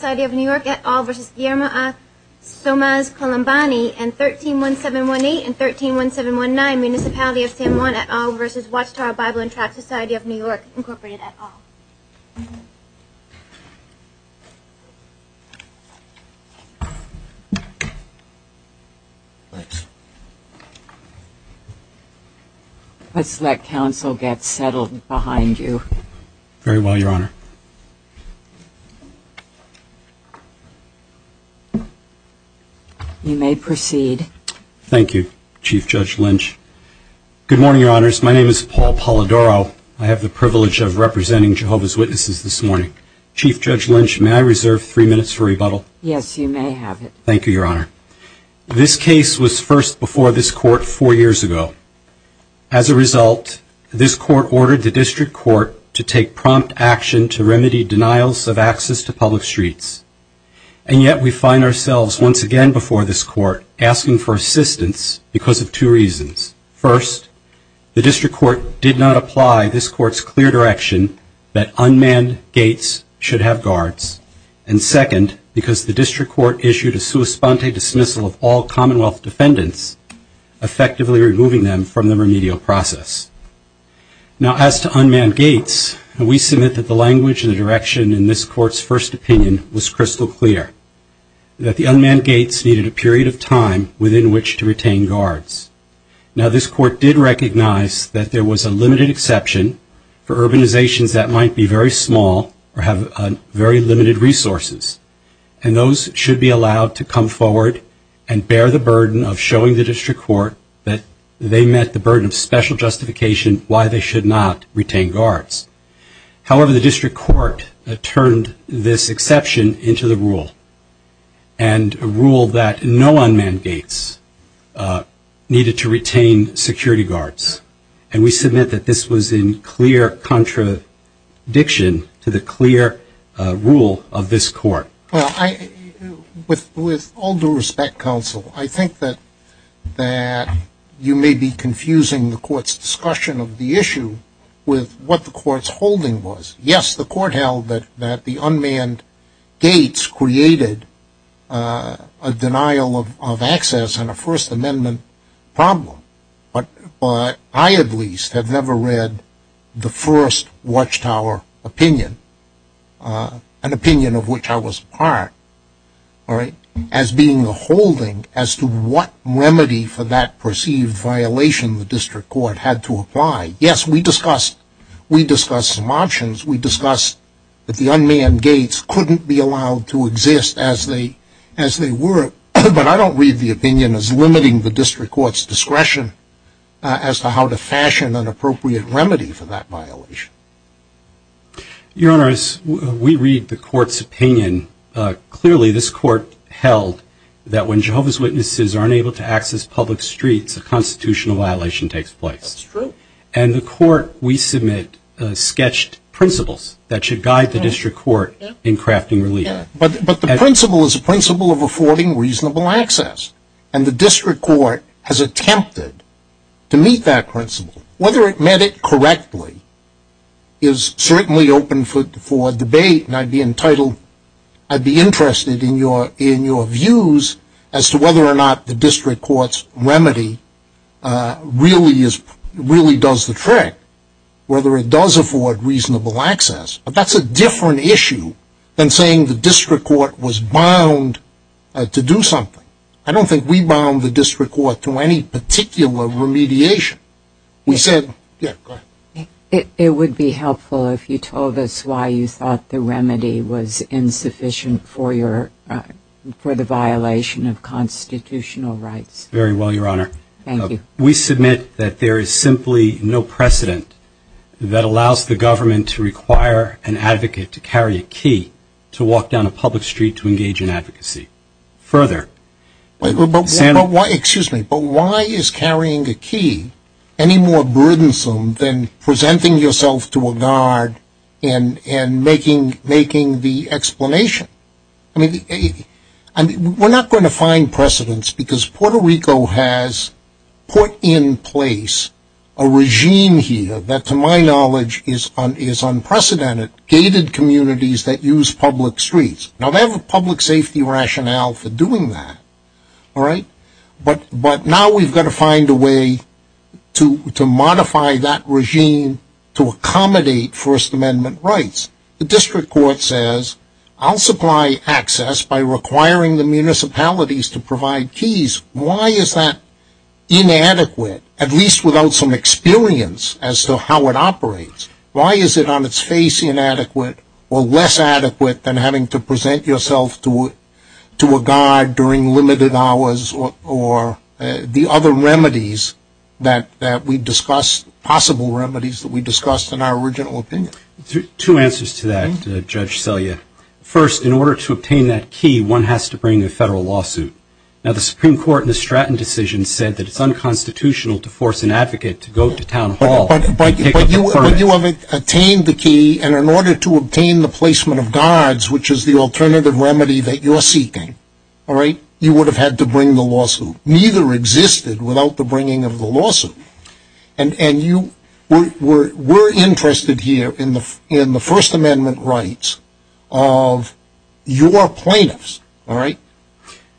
and 131718 and 131719, Municipality of San Juan, et al. v. Wachtower Bible and Tract Society of New York, Incorporated, et al. Let's let counsel get settled behind you. Very well, Your Honor. You may proceed. Thank you, Chief Judge Lynch. Good morning, Your Honors. My name is Paul Polidoro. I have the privilege of representing Jehovah's Witnesses this morning. Chief Judge Lynch, may I reserve three minutes for rebuttal? Yes, you may have it. Thank you, Your Honor. This case was first before this Court four years ago. As a result, this Court ordered the District Court to take prompt action to remedy denials of access to public streets. And yet we find ourselves once again before this Court asking for assistance because of two reasons. First, the District Court did not apply this Court's clear direction that unmanned gates should have guards. And second, because the District Court issued a sua sponte dismissal of all Commonwealth defendants, effectively removing them from the remedial process. Now, as to unmanned gates, we submit that the language and the direction in this Court's first opinion was crystal clear, that the unmanned gates needed a period of time within which to retain guards. Now, this Court did recognize that there was a limited exception for urbanizations that might be very small or have very limited resources. And those should be allowed to come forward and bear the burden of showing the District Court that they met the burden of special justification why they should not retain guards. However, the District Court turned this exception into the rule, and a rule that no unmanned gates needed to retain security guards. And we submit that this was in clear contradiction to the clear rule of this Court. Well, with all due respect, Counsel, I think that you may be confusing the Court's discussion of the issue with what the Court's holding was. Yes, the Court held that the unmanned gates created a denial of access and a First Amendment problem. But I, at least, have never read the first Watchtower opinion, an opinion of which I was part, as being the holding as to what remedy for that perceived violation the District Court had to apply. Yes, we discussed some options. We discussed that the unmanned gates couldn't be allowed to exist as they were. But I don't read the opinion as limiting the District Court's discretion as to how to fashion an appropriate remedy for that violation. Your Honor, as we read the Court's opinion, clearly this Court held that when Jehovah's Witnesses are unable to access public streets, a constitutional violation takes place. That's true. And the Court, we submit, sketched principles that should guide the District Court in crafting relief. But the principle is a principle of affording reasonable access. And the District Court has attempted to meet that principle. Whether it met it correctly is certainly open for debate, and I'd be interested in your views as to whether or not the District Court's remedy really does the trick, whether it does afford reasonable access. But that's a different issue than saying the District Court was bound to do something. I don't think we bound the District Court to any particular remediation. We said, yeah, go ahead. It would be helpful if you told us why you thought the remedy was insufficient for the violation of constitutional rights. Very well, Your Honor. Thank you. We submit that there is simply no precedent that allows the government to require an advocate to carry a key to walk down a public street to engage in advocacy. Further. But why is carrying a key any more burdensome than presenting yourself to a guard and making the explanation? I mean, we're not going to find precedence because Puerto Rico has put in place a regime here that, to my knowledge, is unprecedented, gated communities that use public streets. Now, they have a public safety rationale for doing that, all right? But now we've got to find a way to modify that regime to accommodate First Amendment rights. The District Court says, I'll supply access by requiring the municipalities to provide keys. Why is that inadequate, at least without some experience as to how it operates? Why is it on its face inadequate or less adequate than having to present yourself to a guard during limited hours or the other remedies that we discussed, possible remedies that we discussed in our original opinion? Two answers to that, Judge Selye. First, in order to obtain that key, one has to bring a federal lawsuit. Now, the Supreme Court in the Stratton decision said that it's unconstitutional to force an advocate to go to town hall. But you have obtained the key, and in order to obtain the placement of guards, which is the alternative remedy that you're seeking, all right, you would have had to bring the lawsuit. Neither existed without the bringing of the lawsuit. And you were interested here in the First Amendment rights of your plaintiffs, all right?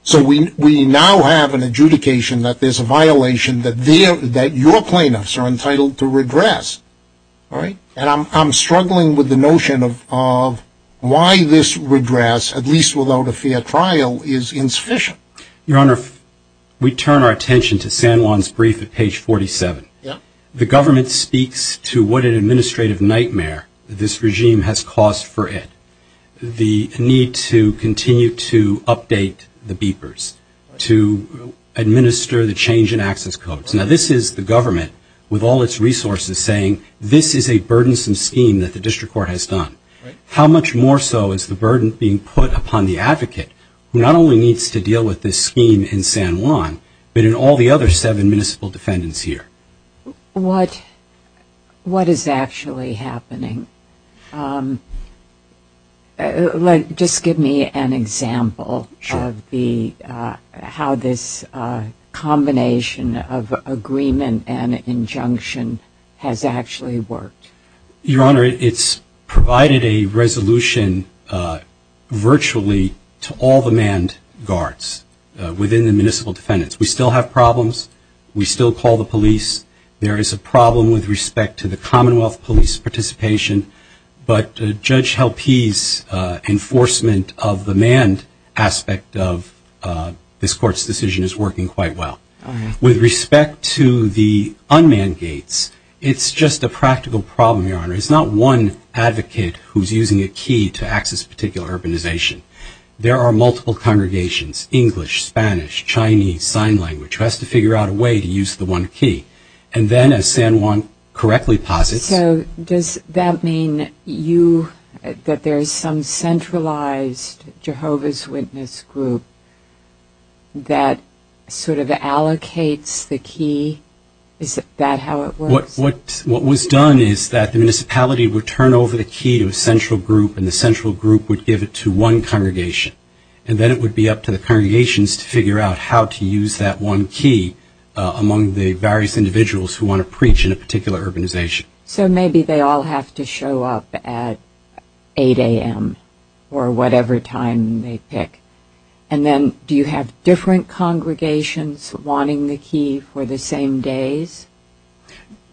So we now have an adjudication that there's a violation that your plaintiffs are entitled to redress, all right? And I'm struggling with the notion of why this redress, at least without a fair trial, is insufficient. Your Honor, we turn our attention to San Juan's brief at page 47. The government speaks to what an administrative nightmare this regime has caused for it, the need to continue to update the beepers, to administer the change in access codes. Now, this is the government with all its resources saying this is a burdensome scheme that the district court has done. How much more so is the burden being put upon the advocate who not only needs to deal with this scheme in San Juan, but in all the other seven municipal defendants here? What is actually happening? Just give me an example of how this combination of agreement and injunction has actually worked. Your Honor, it's provided a resolution virtually to all the manned guards within the municipal defendants. We still have problems. We still call the police. There is a problem with respect to the Commonwealth police participation. But Judge Halpe's enforcement of the manned aspect of this court's decision is working quite well. With respect to the unmanned gates, it's just a practical problem, Your Honor. It's not one advocate who's using a key to access particular urbanization. There are multiple congregations, English, Spanish, Chinese, sign language, who has to figure out a way to use the one key. And then as San Juan correctly posits. So does that mean that there is some centralized Jehovah's Witness group that sort of allocates the key? Is that how it works? What was done is that the municipality would turn over the key to a central group, and the central group would give it to one congregation. And then it would be up to the congregations to figure out how to use that one key among the various individuals who want to preach in a particular urbanization. So maybe they all have to show up at 8 a.m. or whatever time they pick. And then do you have different congregations wanting the key for the same days?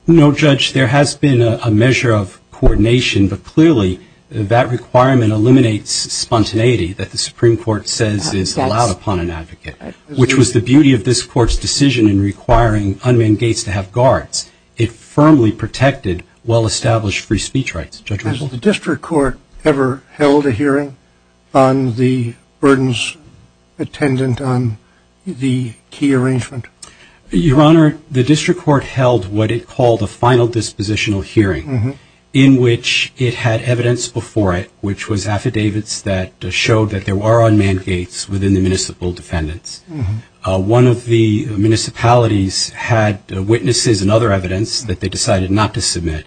No, Judge, there has been a measure of coordination, but clearly that requirement eliminates spontaneity that the Supreme Court says is allowed upon an advocate, which was the beauty of this court's decision in requiring unmanned gates to have guards. It firmly protected well-established free speech rights. Has the district court ever held a hearing on the burdens attendant on the key arrangement? Your Honor, the district court held what it called a final dispositional hearing in which it had evidence before it, which was affidavits that showed that there were unmanned gates within the municipal defendants. One of the municipalities had witnesses and other evidence that they decided not to submit.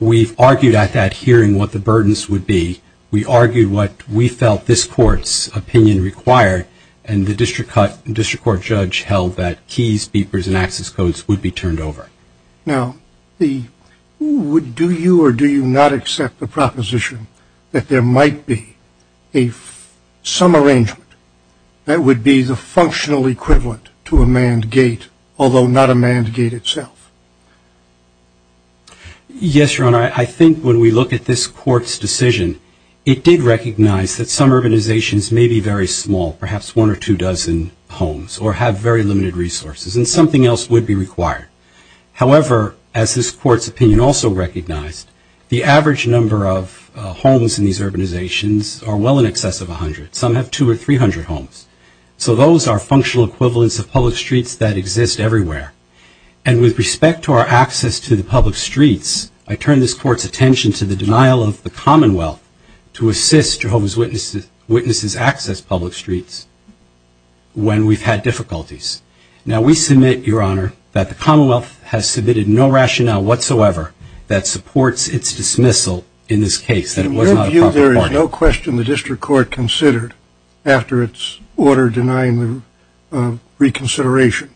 We've argued at that hearing what the burdens would be. We argued what we felt this court's opinion required, and the district court judge held that keys, beepers, and access codes would be turned over. Now, do you or do you not accept the proposition that there might be some arrangement that would be the functional equivalent to a manned gate, although not a manned gate itself? Yes, Your Honor, I think when we look at this court's decision, it did recognize that some urbanizations may be very small, perhaps one or two dozen homes, or have very limited resources, and something else would be required. However, as this court's opinion also recognized, the average number of homes in these urbanizations are well in excess of 100. Some have 200 or 300 homes. So those are functional equivalents of public streets that exist everywhere. And with respect to our access to the public streets, I turn this court's attention to the denial of the Commonwealth to assist Jehovah's Witnesses' access to public streets when we've had difficulties. Now, we submit, Your Honor, that the Commonwealth has submitted no rationale whatsoever that supports its dismissal in this case, that it was not a proper party. In your view, there is no question the district court considered, after its order denying the reconsideration,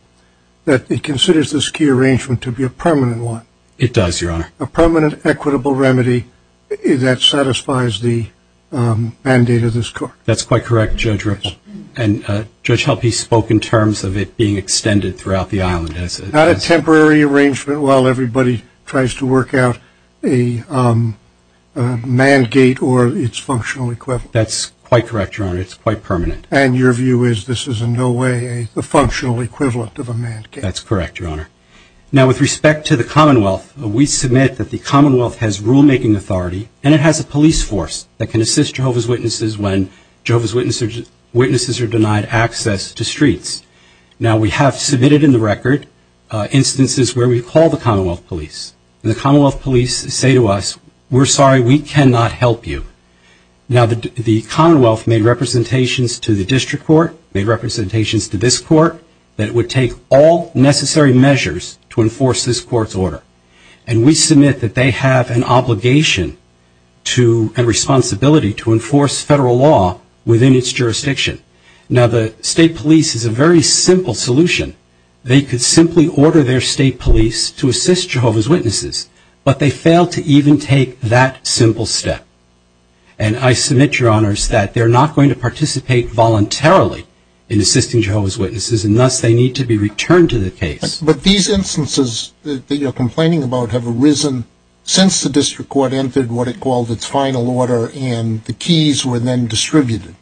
that it considers this key arrangement to be a permanent one? It does, Your Honor. A permanent equitable remedy that satisfies the mandate of this court? That's quite correct, Judge Ripple. And Judge Helpe spoke in terms of it being extended throughout the island. Not a temporary arrangement while everybody tries to work out a mandate or its functional equivalent? That's quite correct, Your Honor. It's quite permanent. And your view is this is in no way the functional equivalent of a mandate? That's correct, Your Honor. Now, with respect to the Commonwealth, we submit that the Commonwealth has rulemaking authority, and it has a police force that can assist Jehovah's Witnesses when Jehovah's Witnesses are denied access to streets. Now, we have submitted in the record instances where we call the Commonwealth police, and the Commonwealth police say to us, we're sorry, we cannot help you. Now, the Commonwealth made representations to the district court, made representations to this court, that it would take all necessary measures to enforce this court's order. And we submit that they have an obligation to and responsibility to enforce federal law within its jurisdiction. Now, the state police is a very simple solution. They could simply order their state police to assist Jehovah's Witnesses, but they fail to even take that simple step. And I submit, Your Honors, that they're not going to participate voluntarily in assisting Jehovah's Witnesses, and thus they need to be returned to the case. But these instances that you're complaining about have arisen since the district court entered what it called its final order, and the keys were then distributed.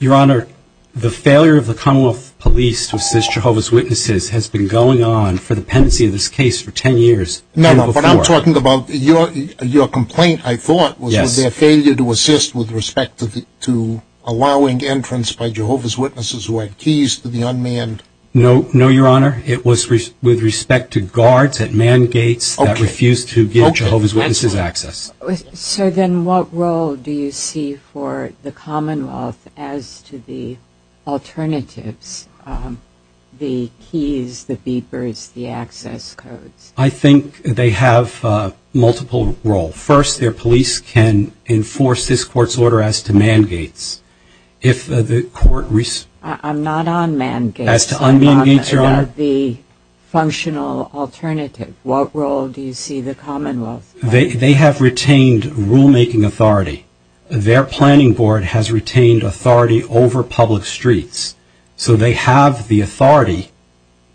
Your Honor, the failure of the Commonwealth police to assist Jehovah's Witnesses has been going on for the pendency of this case for 10 years. No, no, but I'm talking about your complaint, I thought, was with their failure to assist with respect to allowing entrance by Jehovah's Witnesses who had keys to the unmanned. No, no, Your Honor. It was with respect to guards at man gates that refused to give Jehovah's Witnesses access. So then what role do you see for the Commonwealth as to the alternatives, the keys, the beepers, the access codes? I think they have multiple roles. First, their police can enforce this court's order as to man gates. I'm not on man gates. As to unmanned gates, Your Honor? I'm on the functional alternative. What role do you see the Commonwealth? They have retained rulemaking authority. Their planning board has retained authority over public streets, so they have the authority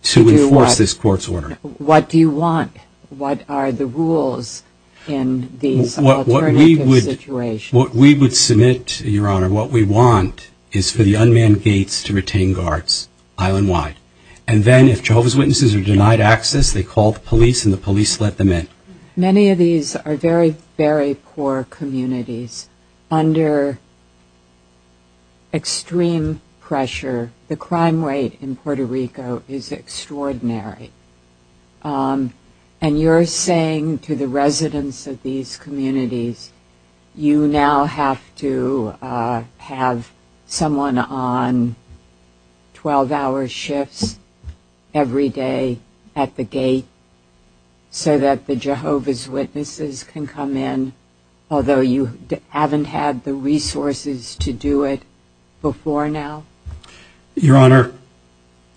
to enforce this court's order. What do you want? What are the rules in these alternative situations? What we would submit, Your Honor, what we want is for the unmanned gates to retain guards island-wide. And then if Jehovah's Witnesses are denied access, they call the police, and the police let them in. Many of these are very, very poor communities under extreme pressure. The crime rate in Puerto Rico is extraordinary. And you're saying to the residents of these communities, you now have to have someone on 12-hour shifts every day at the gate so that the Jehovah's Witnesses can come in, although you haven't had the resources to do it before now? Your Honor,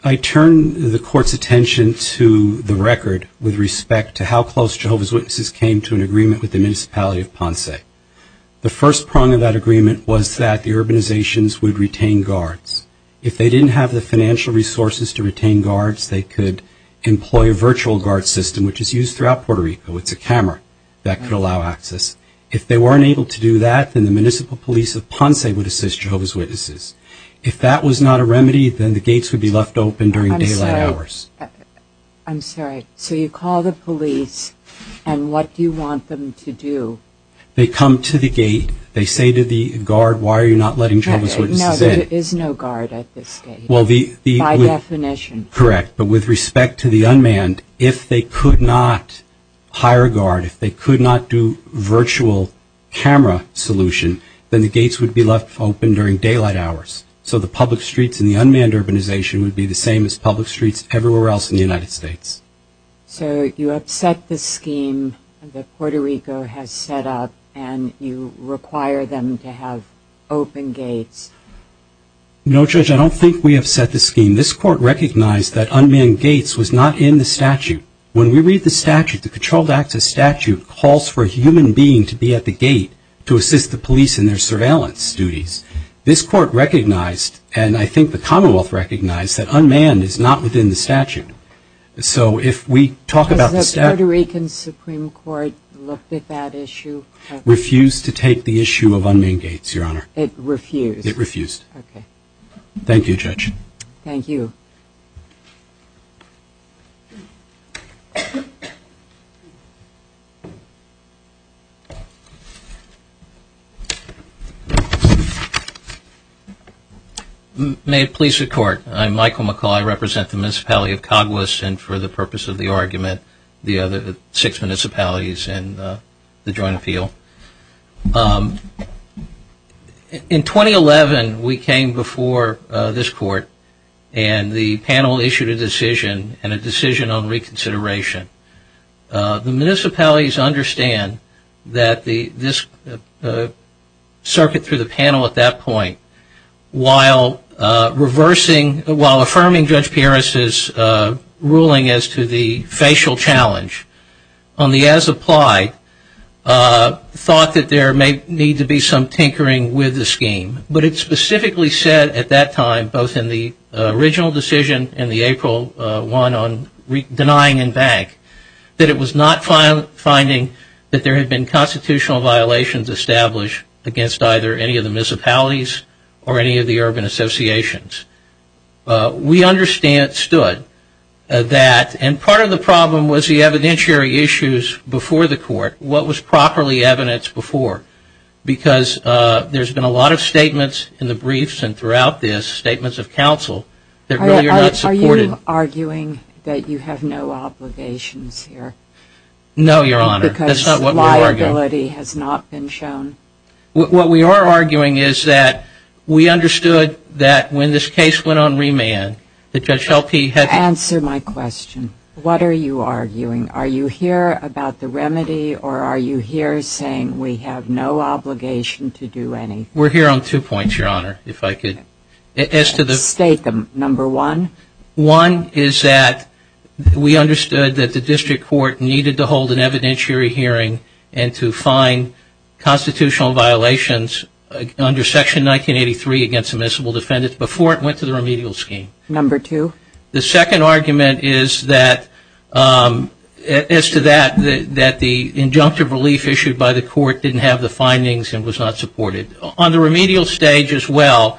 I turn the court's attention to the record with respect to how close Jehovah's Witnesses came to an agreement with the municipality of Ponce. The first prong of that agreement was that the urbanizations would retain guards. If they didn't have the financial resources to retain guards, they could employ a virtual guard system, which is used throughout Puerto Rico. It's a camera that could allow access. If they weren't able to do that, then the municipal police of Ponce would assist Jehovah's Witnesses. If that was not a remedy, then the gates would be left open during daylight hours. I'm sorry. So you call the police, and what do you want them to do? They come to the gate. They say to the guard, why are you not letting Jehovah's Witnesses in? No, there is no guard at this gate, by definition. Correct. But with respect to the unmanned, if they could not hire a guard, if they could not do virtual camera solution, then the gates would be left open during daylight hours. So the public streets and the unmanned urbanization would be the same as public streets everywhere else in the United States. So you upset the scheme that Puerto Rico has set up, and you require them to have open gates. No, Judge, I don't think we upset the scheme. This court recognized that unmanned gates was not in the statute. When we read the statute, the Controlled Access Statute calls for a human being to be at the gate to assist the police in their surveillance duties. This court recognized, and I think the Commonwealth recognized, that unmanned is not within the statute. So if we talk about the statute. Has the Puerto Rican Supreme Court looked at that issue? Refused to take the issue of unmanned gates, Your Honor. It refused? It refused. Okay. Thank you, Judge. Thank you. May it please the Court. I'm Michael McCaul. I represent the municipality of Cagwis, and for the purpose of the argument, the other six municipalities in the joint appeal. In 2011, we came before this court, and the panel issued a decision, and a decision on reconsideration. The municipalities understand that this circuit through the panel at that point, while reversing, while affirming Judge Pieris's ruling as to the facial challenge, on the as applied, thought that there may need to be some tinkering with the scheme. But it specifically said at that time, both in the original decision and the April one, on denying and bank, that it was not finding that there had been constitutional violations established against either any of the municipalities or any of the urban associations. We understood that, and part of the problem was the evidentiary issues before the court, what was properly evidenced before, because there's been a lot of statements in the briefs and throughout this, statements of counsel, that really are not supported. Are you arguing that you have no obligations here? No, Your Honor. Because liability has not been shown. What we are arguing is that we understood that when this case went on remand, that Judge Shelby had to Answer my question. What are you arguing? Are you here about the remedy, or are you here saying we have no obligation to do anything? We're here on two points, Your Honor, if I could. State them. Number one? One is that we understood that the district court needed to hold an evidentiary hearing and to find constitutional violations under Section 1983 against admissible defendants before it went to the remedial scheme. Number two? The second argument is that, as to that, that the injunctive relief issued by the court didn't have the findings and was not supported. On the remedial stage as well,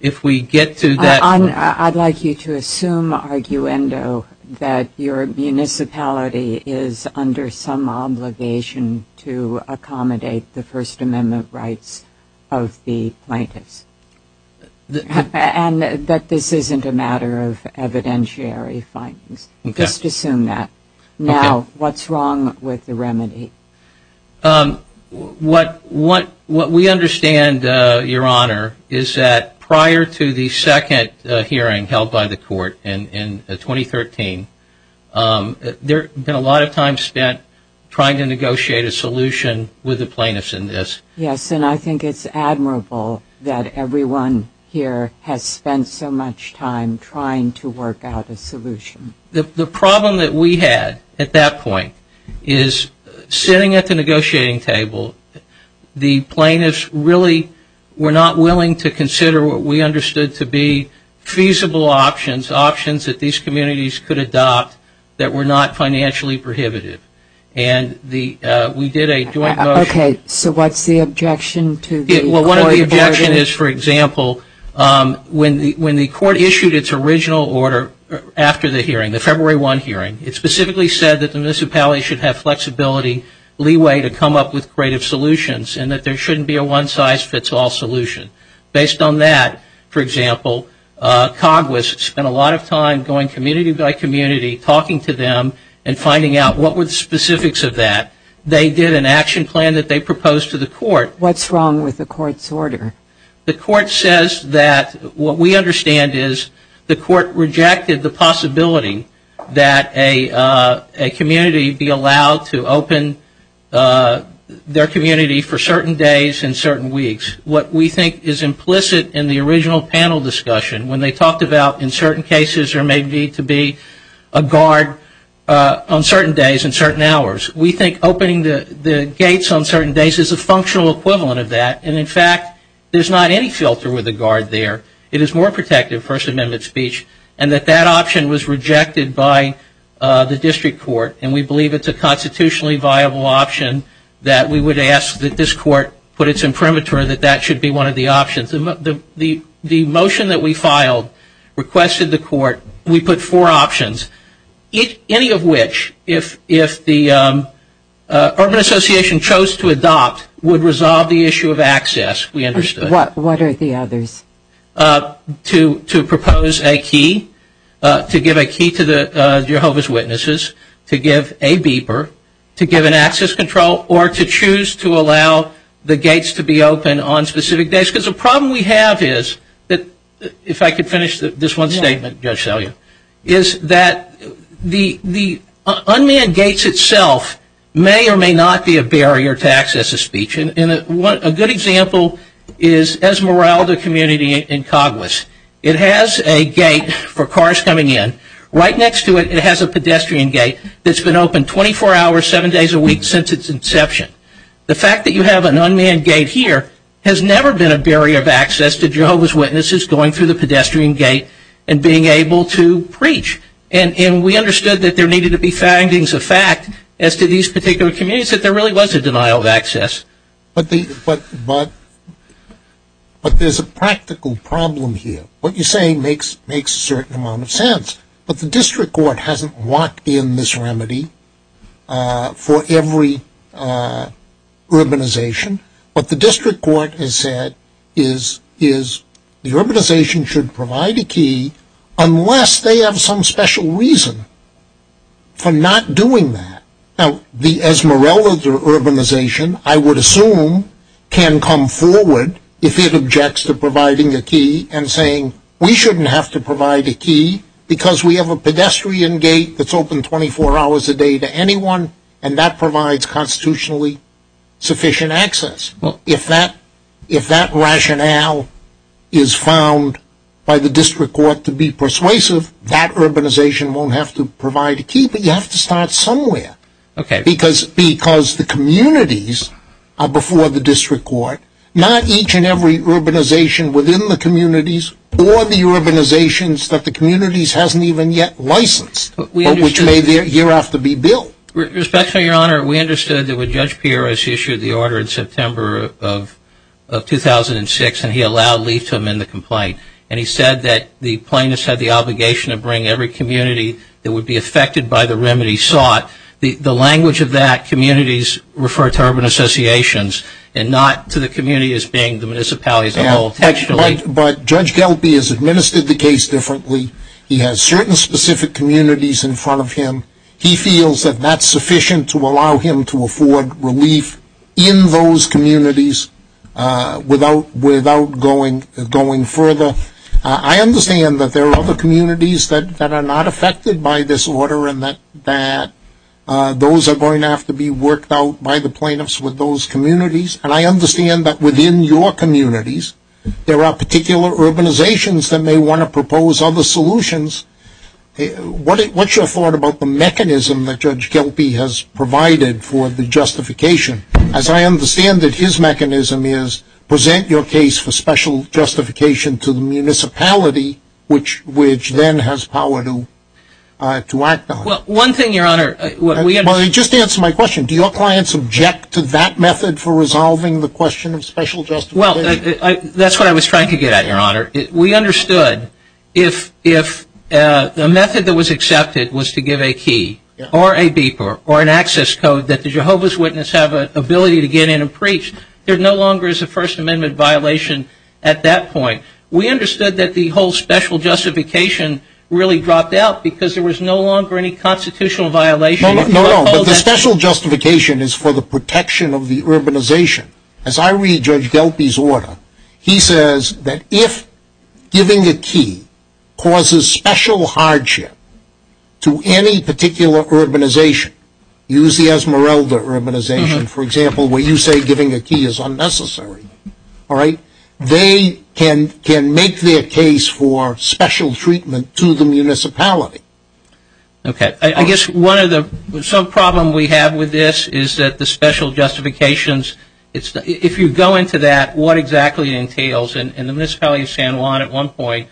if we get to that point I'd like you to assume, arguendo, that your municipality is under some obligation to accommodate the First Amendment rights of the plaintiffs. And that this isn't a matter of evidentiary findings. Just assume that. Now, what's wrong with the remedy? What we understand, Your Honor, is that prior to the second hearing held by the court in 2013, there had been a lot of time spent trying to negotiate a solution with the plaintiffs in this. Yes, and I think it's admirable that everyone here has spent so much time trying to work out a solution. The problem that we had at that point is, sitting at the negotiating table, the plaintiffs really were not willing to consider what we understood to be feasible options, options that these communities could adopt that were not financially prohibitive. And we did a joint motion. Okay, so what's the objection to the court order? It specifically said that the municipality should have flexibility, leeway to come up with creative solutions, and that there shouldn't be a one-size-fits-all solution. Based on that, for example, COGWIS spent a lot of time going community by community, talking to them and finding out what were the specifics of that. They did an action plan that they proposed to the court. What's wrong with the court's order? The court says that what we understand is the court rejected the possibility that a community be allowed to open their community for certain days and certain weeks. What we think is implicit in the original panel discussion, when they talked about in certain cases there may need to be a guard on certain days and certain hours, we think opening the gates on certain days is a functional equivalent of that. And, in fact, there's not any filter with a guard there. It is more protective, First Amendment speech, and that that option was rejected by the district court. And we believe it's a constitutionally viable option that we would ask that this court put its imprimatur that that should be one of the options. The motion that we filed requested the court, we put four options, any of which, if the Urban Association chose to adopt, would resolve the issue of access, we understood. What are the others? To propose a key, to give a key to the Jehovah's Witnesses, to give a beeper, to give an access control, or to choose to allow the gates to be open on specific days. Because the problem we have is, if I could finish this one statement, Judge Salyer, is that the unmanned gates itself may or may not be a barrier to access to speech. And a good example is Esmeralda Community in Coghlas. It has a gate for cars coming in. Right next to it, it has a pedestrian gate that's been open 24 hours, seven days a week since its inception. The fact that you have an unmanned gate here has never been a barrier of access to Jehovah's Witnesses going through the pedestrian gate and being able to preach. And we understood that there needed to be findings of fact as to these particular communities, that there really was a denial of access. But there's a practical problem here. What you're saying makes a certain amount of sense. But the district court hasn't locked in this remedy for every urbanization. What the district court has said is the urbanization should provide a key unless they have some special reason for not doing that. Now, the Esmeralda urbanization, I would assume, can come forward if it objects to providing a key and saying we shouldn't have to provide a key because we have a pedestrian gate that's open 24 hours a day to anyone and that provides constitutionally sufficient access. If that rationale is found by the district court to be persuasive, that urbanization won't have to provide a key, but you have to start somewhere. Because the communities are before the district court, or the urbanizations that the communities haven't even yet licensed, which may year after be billed. Respectfully, Your Honor, we understood that when Judge Pierce issued the order in September of 2006 and he allowed Leith to amend the complaint, and he said that the plaintiffs had the obligation to bring every community that would be affected by the remedy sought, the language of that, communities, referred to urban associations but Judge Gelby has administered the case differently. He has certain specific communities in front of him. He feels that that's sufficient to allow him to afford relief in those communities without going further. I understand that there are other communities that are not affected by this order and that those are going to have to be worked out by the plaintiffs with those communities, and I understand that within your communities there are particular urbanizations that may want to propose other solutions. What's your thought about the mechanism that Judge Gelby has provided for the justification? As I understand it, his mechanism is present your case for special justification to the municipality, which then has power to act on it. Well, one thing, Your Honor. Just answer my question. Do your clients object to that method for resolving the question of special justification? Well, that's what I was trying to get at, Your Honor. We understood if the method that was accepted was to give a key or a beeper or an access code that the Jehovah's Witness have an ability to get in and preach, there no longer is a First Amendment violation at that point. We understood that the whole special justification really dropped out because there was no longer any constitutional violation. No, but the special justification is for the protection of the urbanization. As I read Judge Gelby's order, he says that if giving a key causes special hardship to any particular urbanization, use the Esmeralda urbanization, for example, where you say giving a key is unnecessary, they can make their case for special treatment to the municipality. Okay. I guess some problem we have with this is that the special justifications, if you go into that, what exactly it entails, and the municipality of San Juan at one point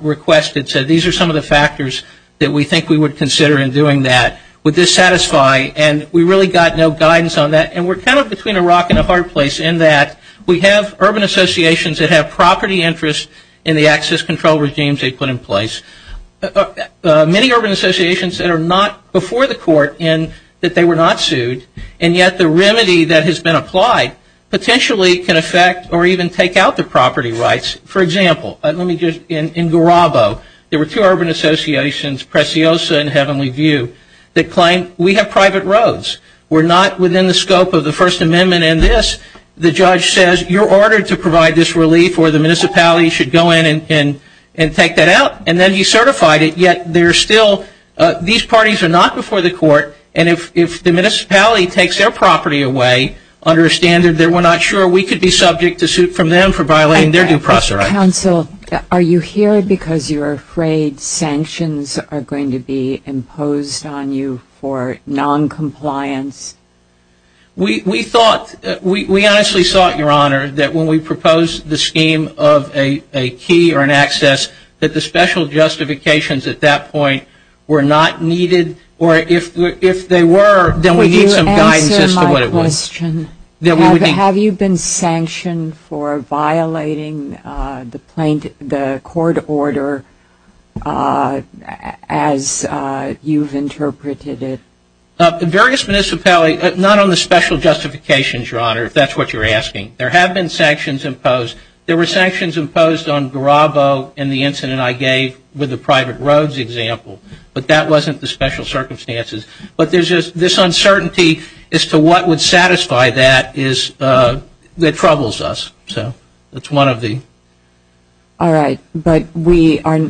requested, said these are some of the factors that we think we would consider in doing that. Would this satisfy? And we really got no guidance on that, and we're kind of between a rock and a hard place in that we have urban associations that have property interests in the access control regimes they put in place. Many urban associations that are not before the court in that they were not sued, and yet the remedy that has been applied potentially can affect or even take out the property rights. For example, in Garabo, there were two urban associations, Preciosa and Heavenly View, that claim we have private roads. We're not within the scope of the First Amendment in this. The judge says you're ordered to provide this relief or the municipality should go in and take that out. And then he certified it, yet these parties are not before the court, and if the municipality takes their property away under a standard that we're not sure we could be subject to suit from them for violating their due process rights. Counsel, are you here because you're afraid sanctions are going to be imposed on you for noncompliance? We honestly thought, Your Honor, that when we proposed the scheme of a key or an access, that the special justifications at that point were not needed, or if they were, then we need some guidance as to what it was. Could you answer my question? Have you been sanctioned for violating the court order as you've interpreted it? The various municipalities, not on the special justifications, Your Honor, if that's what you're asking. There have been sanctions imposed. There were sanctions imposed on Garabo in the incident I gave with the private roads example, but that wasn't the special circumstances. But this uncertainty as to what would satisfy that troubles us. So that's one of the... All right. But we are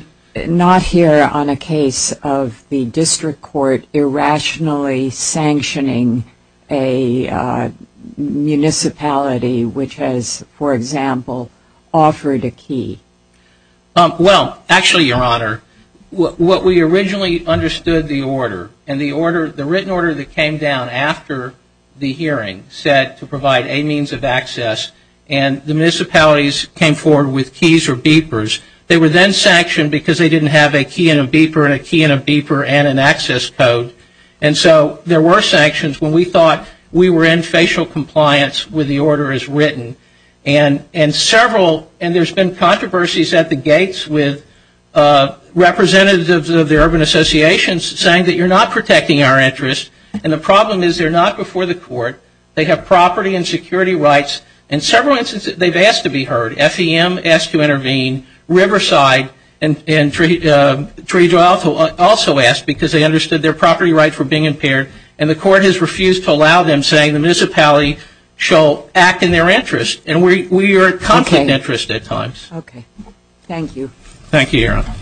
not here on a case of the district court irrationally sanctioning a municipality, which has, for example, offered a key. Well, actually, Your Honor, what we originally understood the order, and the written order that came down after the hearing said to provide a means of access, and the municipalities came forward with keys or beepers. They were then sanctioned because they didn't have a key and a beeper and a key and a beeper and an access code. And so there were sanctions when we thought we were in facial compliance with the order as written. And several, and there's been controversies at the gates with representatives of the urban associations saying that you're not protecting our interests. And the problem is they're not before the court. They have property and security rights. In several instances they've asked to be heard. FEM asked to intervene. Riverside and Tree Draw also asked because they understood their property rights were being impaired. And the court has refused to allow them, saying the municipality shall act in their interest. And we are in conflict of interest at times. Okay. Thank you. Thank you, Your Honor.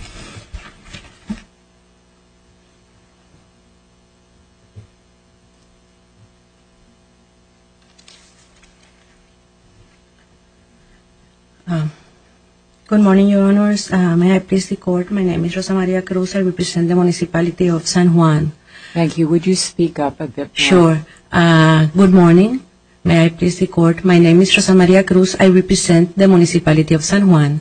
Good morning, Your Honors. May I please the court? My name is Rosa Maria Cruz. I represent the municipality of San Juan. Thank you. Would you speak up at this point? Sure. Good morning. May I please the court? My name is Rosa Maria Cruz. I represent the municipality of San Juan.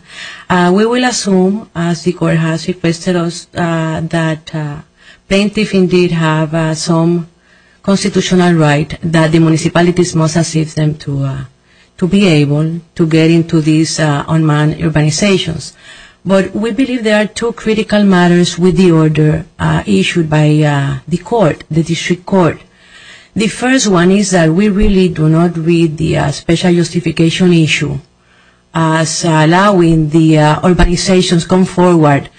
We will assume, as the court has requested us, that plaintiffs indeed have some constitutional right that the municipalities must assist them to be able to get into these unmanned urbanizations. But we believe there are two critical matters with the order issued by the court, the district court. The first one is that we really do not read the special justification issue as allowing the urbanizations come forward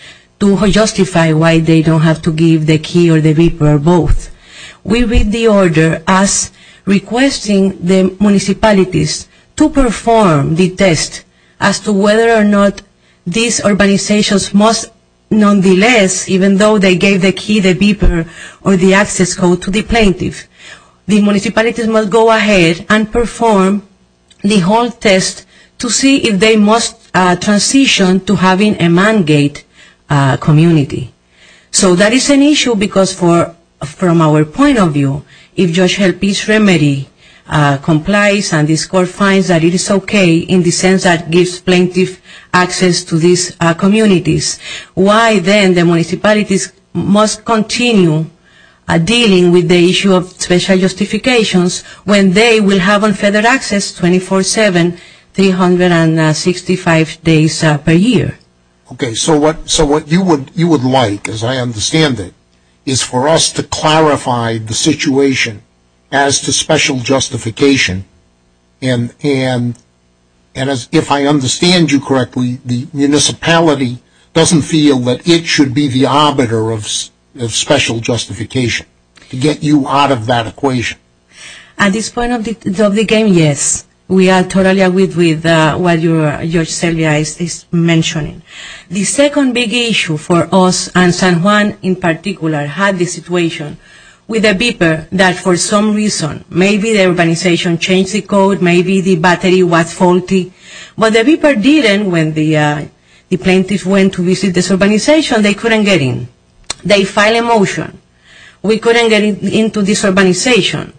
to justify why they don't have to give the key or the beeper or both. We read the order as requesting the municipalities to perform the test as to whether or not these urbanizations must nonetheless, even though they gave the key, the beeper, or the access code to the plaintiff, the municipalities must go ahead and perform the whole test to see if they must transition to having a man-gate community. So that is an issue because from our point of view, if George Hill Peace Remedy complies and this court finds that it is okay in the sense that it gives plaintiff access to these communities, why then the municipalities must continue dealing with the issue of special justifications when they will have unfettered access 24-7, 365 days per year? Okay, so what you would like, as I understand it, is for us to clarify the situation as to special justification. And if I understand you correctly, the municipality doesn't feel that it should be the arbiter of special justification to get you out of that equation. At this point of the game, yes. We are totally agreed with what Judge Selvia is mentioning. The second big issue for us, and San Juan in particular, had this situation with a beeper that for some reason, maybe the urbanization changed the code, maybe the battery was faulty. But the beeper didn't when the plaintiff went to visit this urbanization. They couldn't get in. They filed a motion. We couldn't get into this urbanization.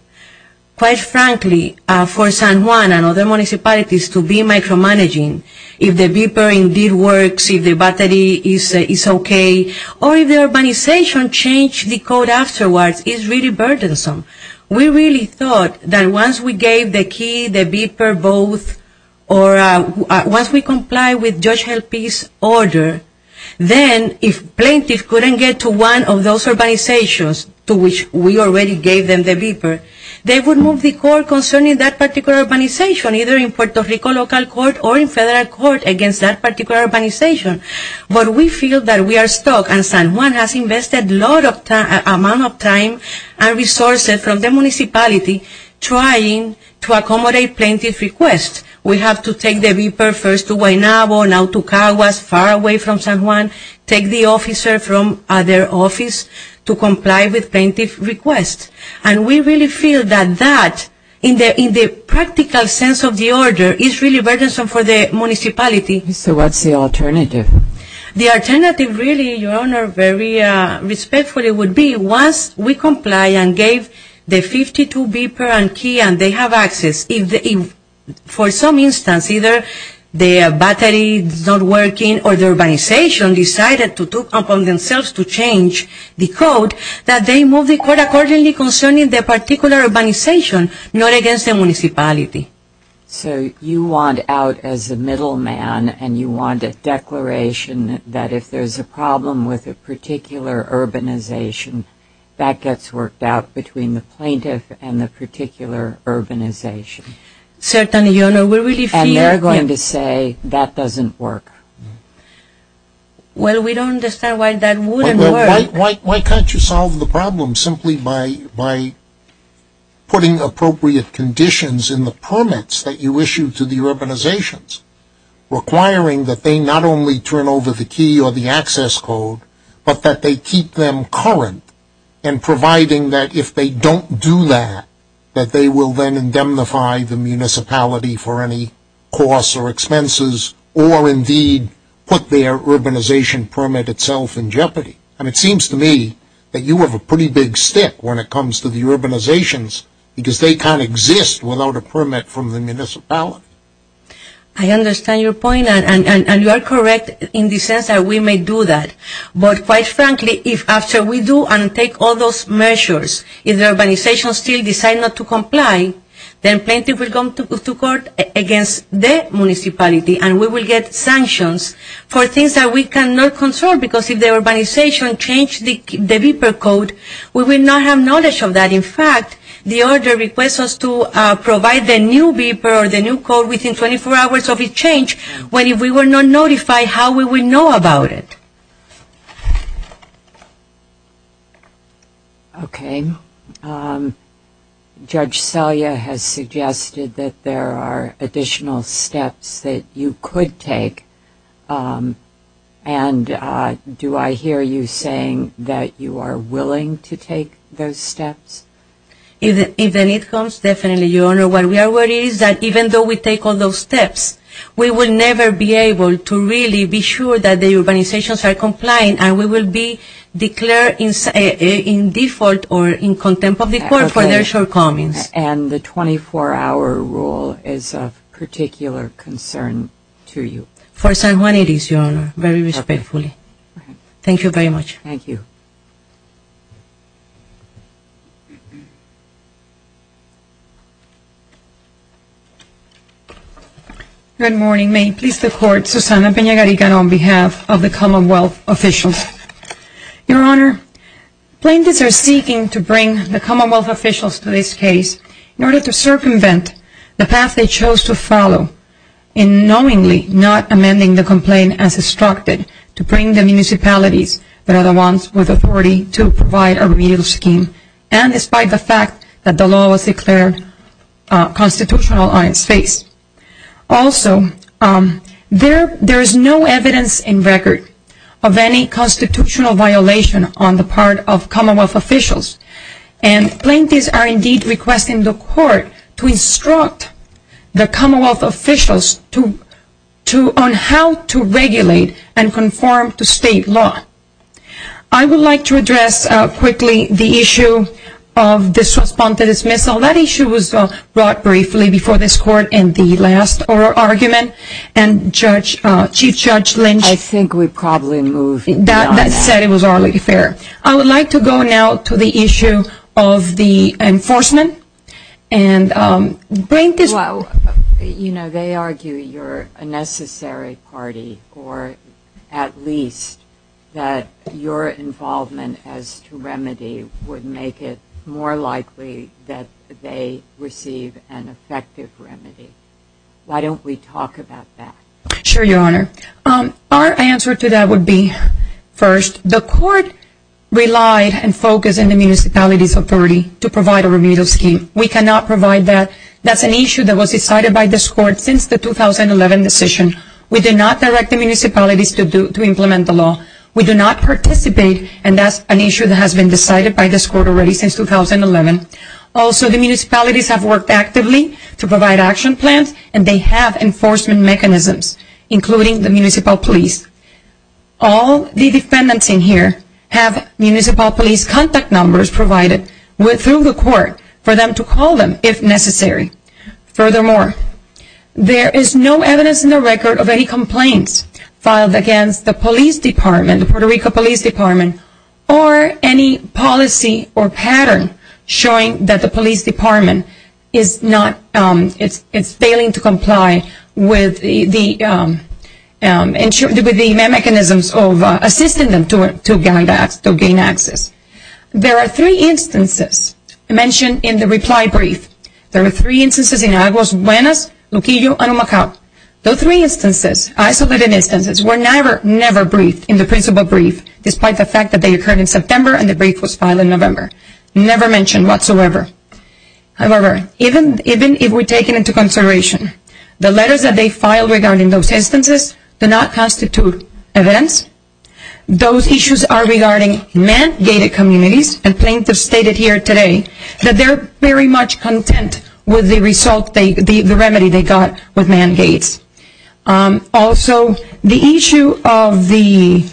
Quite frankly, for San Juan and other municipalities to be micromanaging if the beeper indeed works, if the battery is okay, or if the urbanization changed the code afterwards is really burdensome. We really thought that once we gave the key, the beeper, both, or once we comply with Judge Helpy's order, then if plaintiffs couldn't get to one of those urbanizations to which we already gave them the beeper, they would move the court concerning that particular urbanization, either in Puerto Rico local court or in federal court against that particular urbanization. But we feel that we are stuck, and San Juan has invested a lot of time and resources from the municipality trying to accommodate plaintiff's request. We have to take the beeper first to Guaynabo, now to Cahuas, far away from San Juan, take the officer from other office to comply with plaintiff's request. And we really feel that that, in the practical sense of the order, is really burdensome for the municipality. So what's the alternative? The alternative really, Your Honor, very respectfully would be once we comply and gave the 52 beeper and key and they have access, if for some instance either the battery is not working or the urbanization decided to talk among themselves to change the code, that they move the court accordingly concerning that particular urbanization, not against the municipality. So you want out as a middleman and you want a declaration that if there's a problem with a particular urbanization, that gets worked out between the plaintiff and the particular urbanization. Certainly, Your Honor. And they're going to say that doesn't work. Well, we don't understand why that wouldn't work. Why can't you solve the problem simply by putting appropriate conditions in the permits that you issue to the urbanizations, requiring that they not only turn over the key or the access code, but that they keep them current and providing that if they don't do that, that they will then indemnify the municipality for any costs or expenses or indeed put their urbanization permit itself in jeopardy. And it seems to me that you have a pretty big stick when it comes to the urbanizations because they can't exist without a permit from the municipality. I understand your point and you are correct in the sense that we may do that. But quite frankly, if after we do and take all those measures, if the urbanization still decides not to comply, then plaintiff will come to court against the municipality and we will get sanctions for things that we cannot control because if the urbanization changed the beeper code, we will not have knowledge of that. In fact, the order requests us to provide the new beeper or the new code within 24 hours of its change when if we were not notified, how will we know about it? Okay. Judge Selya has suggested that there are additional steps that you could take. And do I hear you saying that you are willing to take those steps? If the need comes, definitely, Your Honor. What we are worried is that even though we take all those steps, we will never be able to really be sure that the urbanizations are complying and we will be declared in default or in contempt of the court for their shortcomings. And the 24-hour rule is of particular concern to you. For San Juan it is, Your Honor, very respectfully. Thank you very much. Thank you. Good morning. May it please the Court, Susana Peña-Garigan on behalf of the Commonwealth officials. Your Honor, plaintiffs are seeking to bring the Commonwealth officials to this case in order to circumvent the path they chose to follow in knowingly not amending the complaint as instructed to bring the municipalities that are the ones with authority to provide a remedial scheme Also, there is no evidence in record of any constitutional violation on the part of Commonwealth officials. And plaintiffs are indeed requesting the Court to instruct the Commonwealth officials on how to regulate and conform to state law. I would like to address quickly the issue of the Suspended Dismissal. Well, that issue was brought briefly before this Court in the last oral argument and Chief Judge Lynch I think we probably move beyond that. That said, it was already fair. I would like to go now to the issue of the enforcement and plaintiffs Well, you know, they argue you're a necessary party or at least that your involvement as to remedy would make it more likely that they receive an effective remedy. Why don't we talk about that? Sure, Your Honor. Our answer to that would be, first, the Court relied and focused on the municipalities' authority to provide a remedial scheme. We cannot provide that. That's an issue that was decided by this Court since the 2011 decision. We did not direct the municipalities to implement the law. We do not participate, and that's an issue that has been decided by this Court already since 2011. Also, the municipalities have worked actively to provide action plans and they have enforcement mechanisms, including the municipal police. All the defendants in here have municipal police contact numbers provided through the Court for them to call them if necessary. Furthermore, there is no evidence in the record of any complaints filed against the police department, the Puerto Rico Police Department, or any policy or pattern showing that the police department is failing to comply with the mechanisms of assisting them to gain access. There are three instances mentioned in the reply brief. There are three instances in Aguas Buenas, Luquillo, and Omacaw. Those three instances, isolated instances, were never, never briefed in the principal brief, despite the fact that they occurred in September and the brief was filed in November. Never mentioned whatsoever. However, even if we take it into consideration, the letters that they filed regarding those instances do not constitute evidence. Those issues are regarding mandated communities, and plaintiffs stated here today that they are very much content with the result, the remedy they got with man gates. Also, the issue of the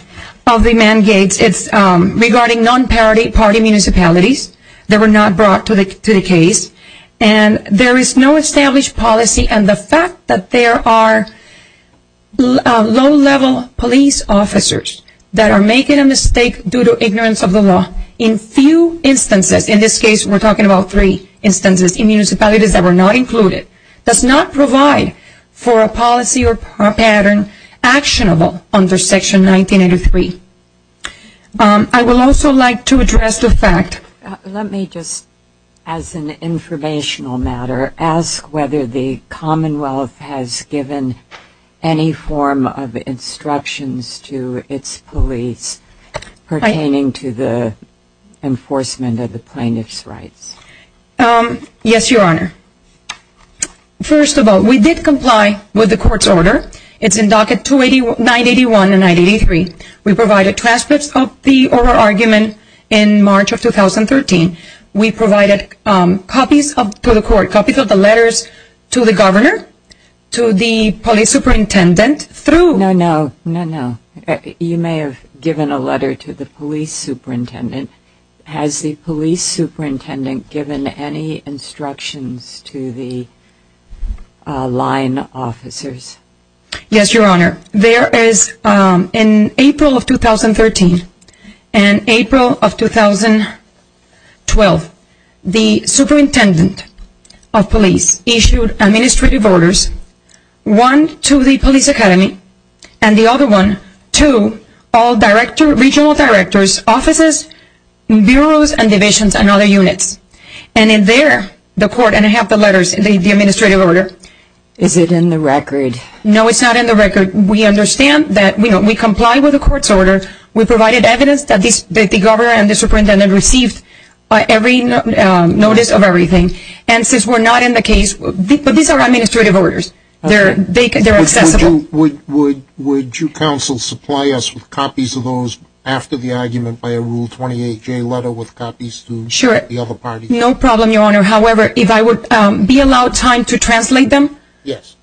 man gates is regarding non-parity party municipalities that were not brought to the case, and there is no established policy, and the fact that there are low-level police officers that are making a mistake due to ignorance of the law in few instances, in this case we are talking about three instances in municipalities that were not included, does not provide for a policy or pattern actionable under Section 1983. I would also like to address the fact... Let me just, as an informational matter, ask whether the Commonwealth has given any form of instructions to its police pertaining to the enforcement of the plaintiff's rights. Yes, Your Honor. First of all, we did comply with the court's order. It's in docket 981 and 983. We provided transcripts of the oral argument in March of 2013. We provided copies to the court, copies of the letters to the governor, to the police superintendent through... No, no, no, no. You may have given a letter to the police superintendent. Has the police superintendent given any instructions to the line officers? Yes, Your Honor. There is, in April of 2013 and April of 2012, the superintendent of police issued administrative orders, one to the police academy and the other one to all regional directors, offices, bureaus and divisions and other units. And in there, the court, and I have the letters, the administrative order... Is it in the record? No, it's not in the record. We understand that we comply with the court's order. We provided evidence that the governor and the superintendent received every notice of everything. And since we're not in the case, but these are administrative orders. They're accessible. Would you counsel supply us with copies of those after the argument by a Rule 28J letter with copies to the other parties? Sure. No problem, Your Honor. However, if I would be allowed time to translate them... Yes.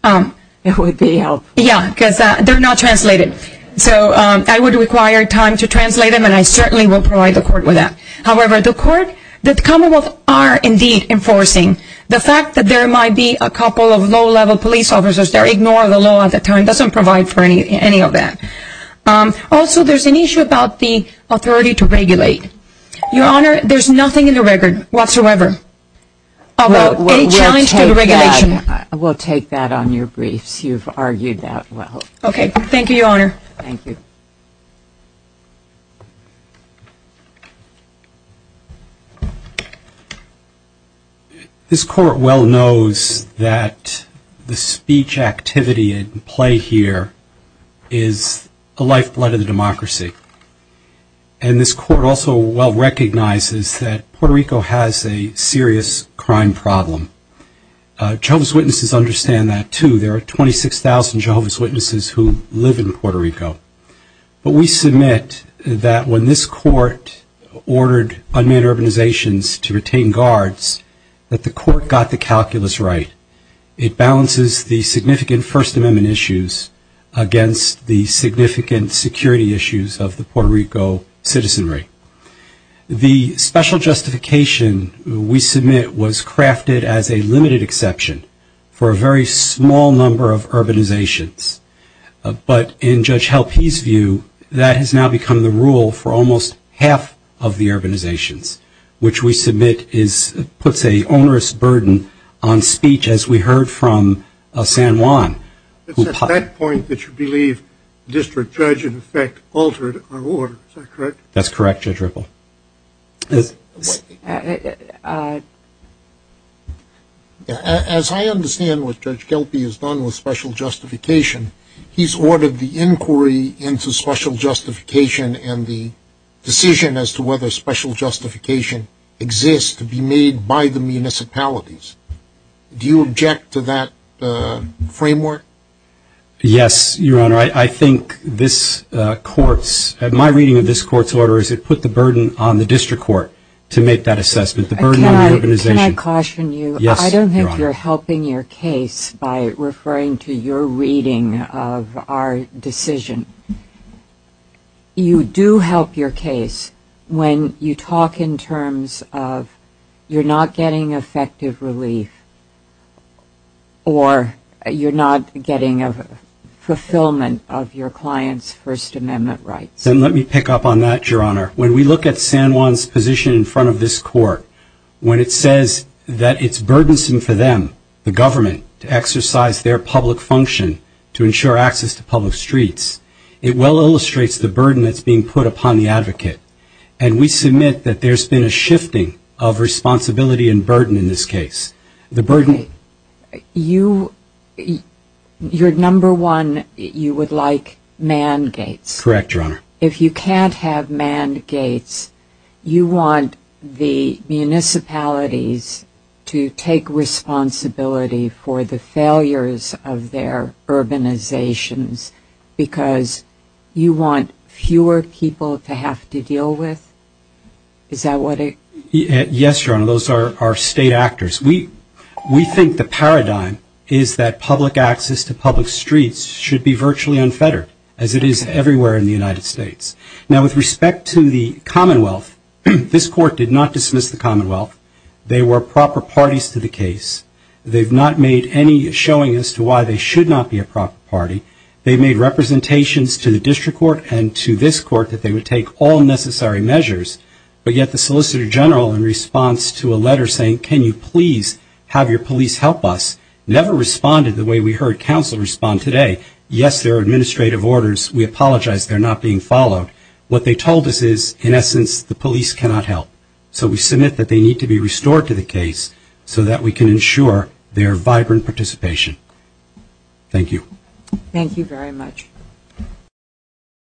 It would be helpful. Yeah, because they're not translated. So I would require time to translate them, and I certainly will provide the court with that. However, the court, the Commonwealth are indeed enforcing the fact that there might be a couple of low-level police officers. They're ignoring the law at the time. It doesn't provide for any of that. Also, there's an issue about the authority to regulate. Your Honor, there's nothing in the record whatsoever about any challenge to the regulation. We'll take that on your briefs. You've argued that well. Okay. Thank you, Your Honor. Thank you. This court well knows that the speech activity at play here is the lifeblood of the democracy, and this court also well recognizes that Puerto Rico has a serious crime problem. Jehovah's Witnesses understand that, too. There are 26,000 Jehovah's Witnesses who live in Puerto Rico. But we submit that when this court ordered unmanned urbanizations to retain guards, that the court got the calculus right. It balances the significant First Amendment issues against the significant security issues of the Puerto Rico citizenry. The special justification we submit was crafted as a limited exception for a very small number of urbanizations, but in Judge Helpe's view, that has now become the rule for almost half of the urbanizations, which we submit puts an onerous burden on speech, as we heard from San Juan. It's at that point that you believe District Judge, in effect, altered our order. Is that correct? That's correct, Judge Ripple. As I understand what Judge Helpe has done with special justification, he's ordered the inquiry into special justification and the decision as to whether special justification exists to be made by the municipalities. Do you object to that framework? Yes, Your Honor. My reading of this court's order is it put the burden on the district court to make that assessment, the burden on the urbanization. Can I caution you? Yes, Your Honor. I don't think you're helping your case by referring to your reading of our decision. You do help your case when you talk in terms of you're not getting effective relief or you're not getting a fulfillment of your client's First Amendment rights. Let me pick up on that, Your Honor. When we look at San Juan's position in front of this court, when it says that it's burdensome for them, the government, to exercise their public function to ensure access to public streets, it well illustrates the burden that's being put upon the advocate. And we submit that there's been a shifting of responsibility and burden in this case. You're number one, you would like man gates. Correct, Your Honor. If you can't have man gates, you want the municipalities to take responsibility for the failures of their urbanizations because you want fewer people to have to deal with? Is that what it? Yes, Your Honor. Those are our state actors. We think the paradigm is that public access to public streets should be virtually unfettered, as it is everywhere in the United States. Now, with respect to the Commonwealth, this court did not dismiss the Commonwealth. They were proper parties to the case. They've not made any showing as to why they should not be a proper party. They made representations to the district court and to this court that they would take all necessary measures, but yet the Solicitor General, in response to a letter saying, can you please have your police help us, never responded the way we heard counsel respond today. Yes, there are administrative orders. We apologize they're not being followed. What they told us is, in essence, the police cannot help. So we submit that they need to be restored to the case so that we can ensure their vibrant participation. Thank you. Thank you very much.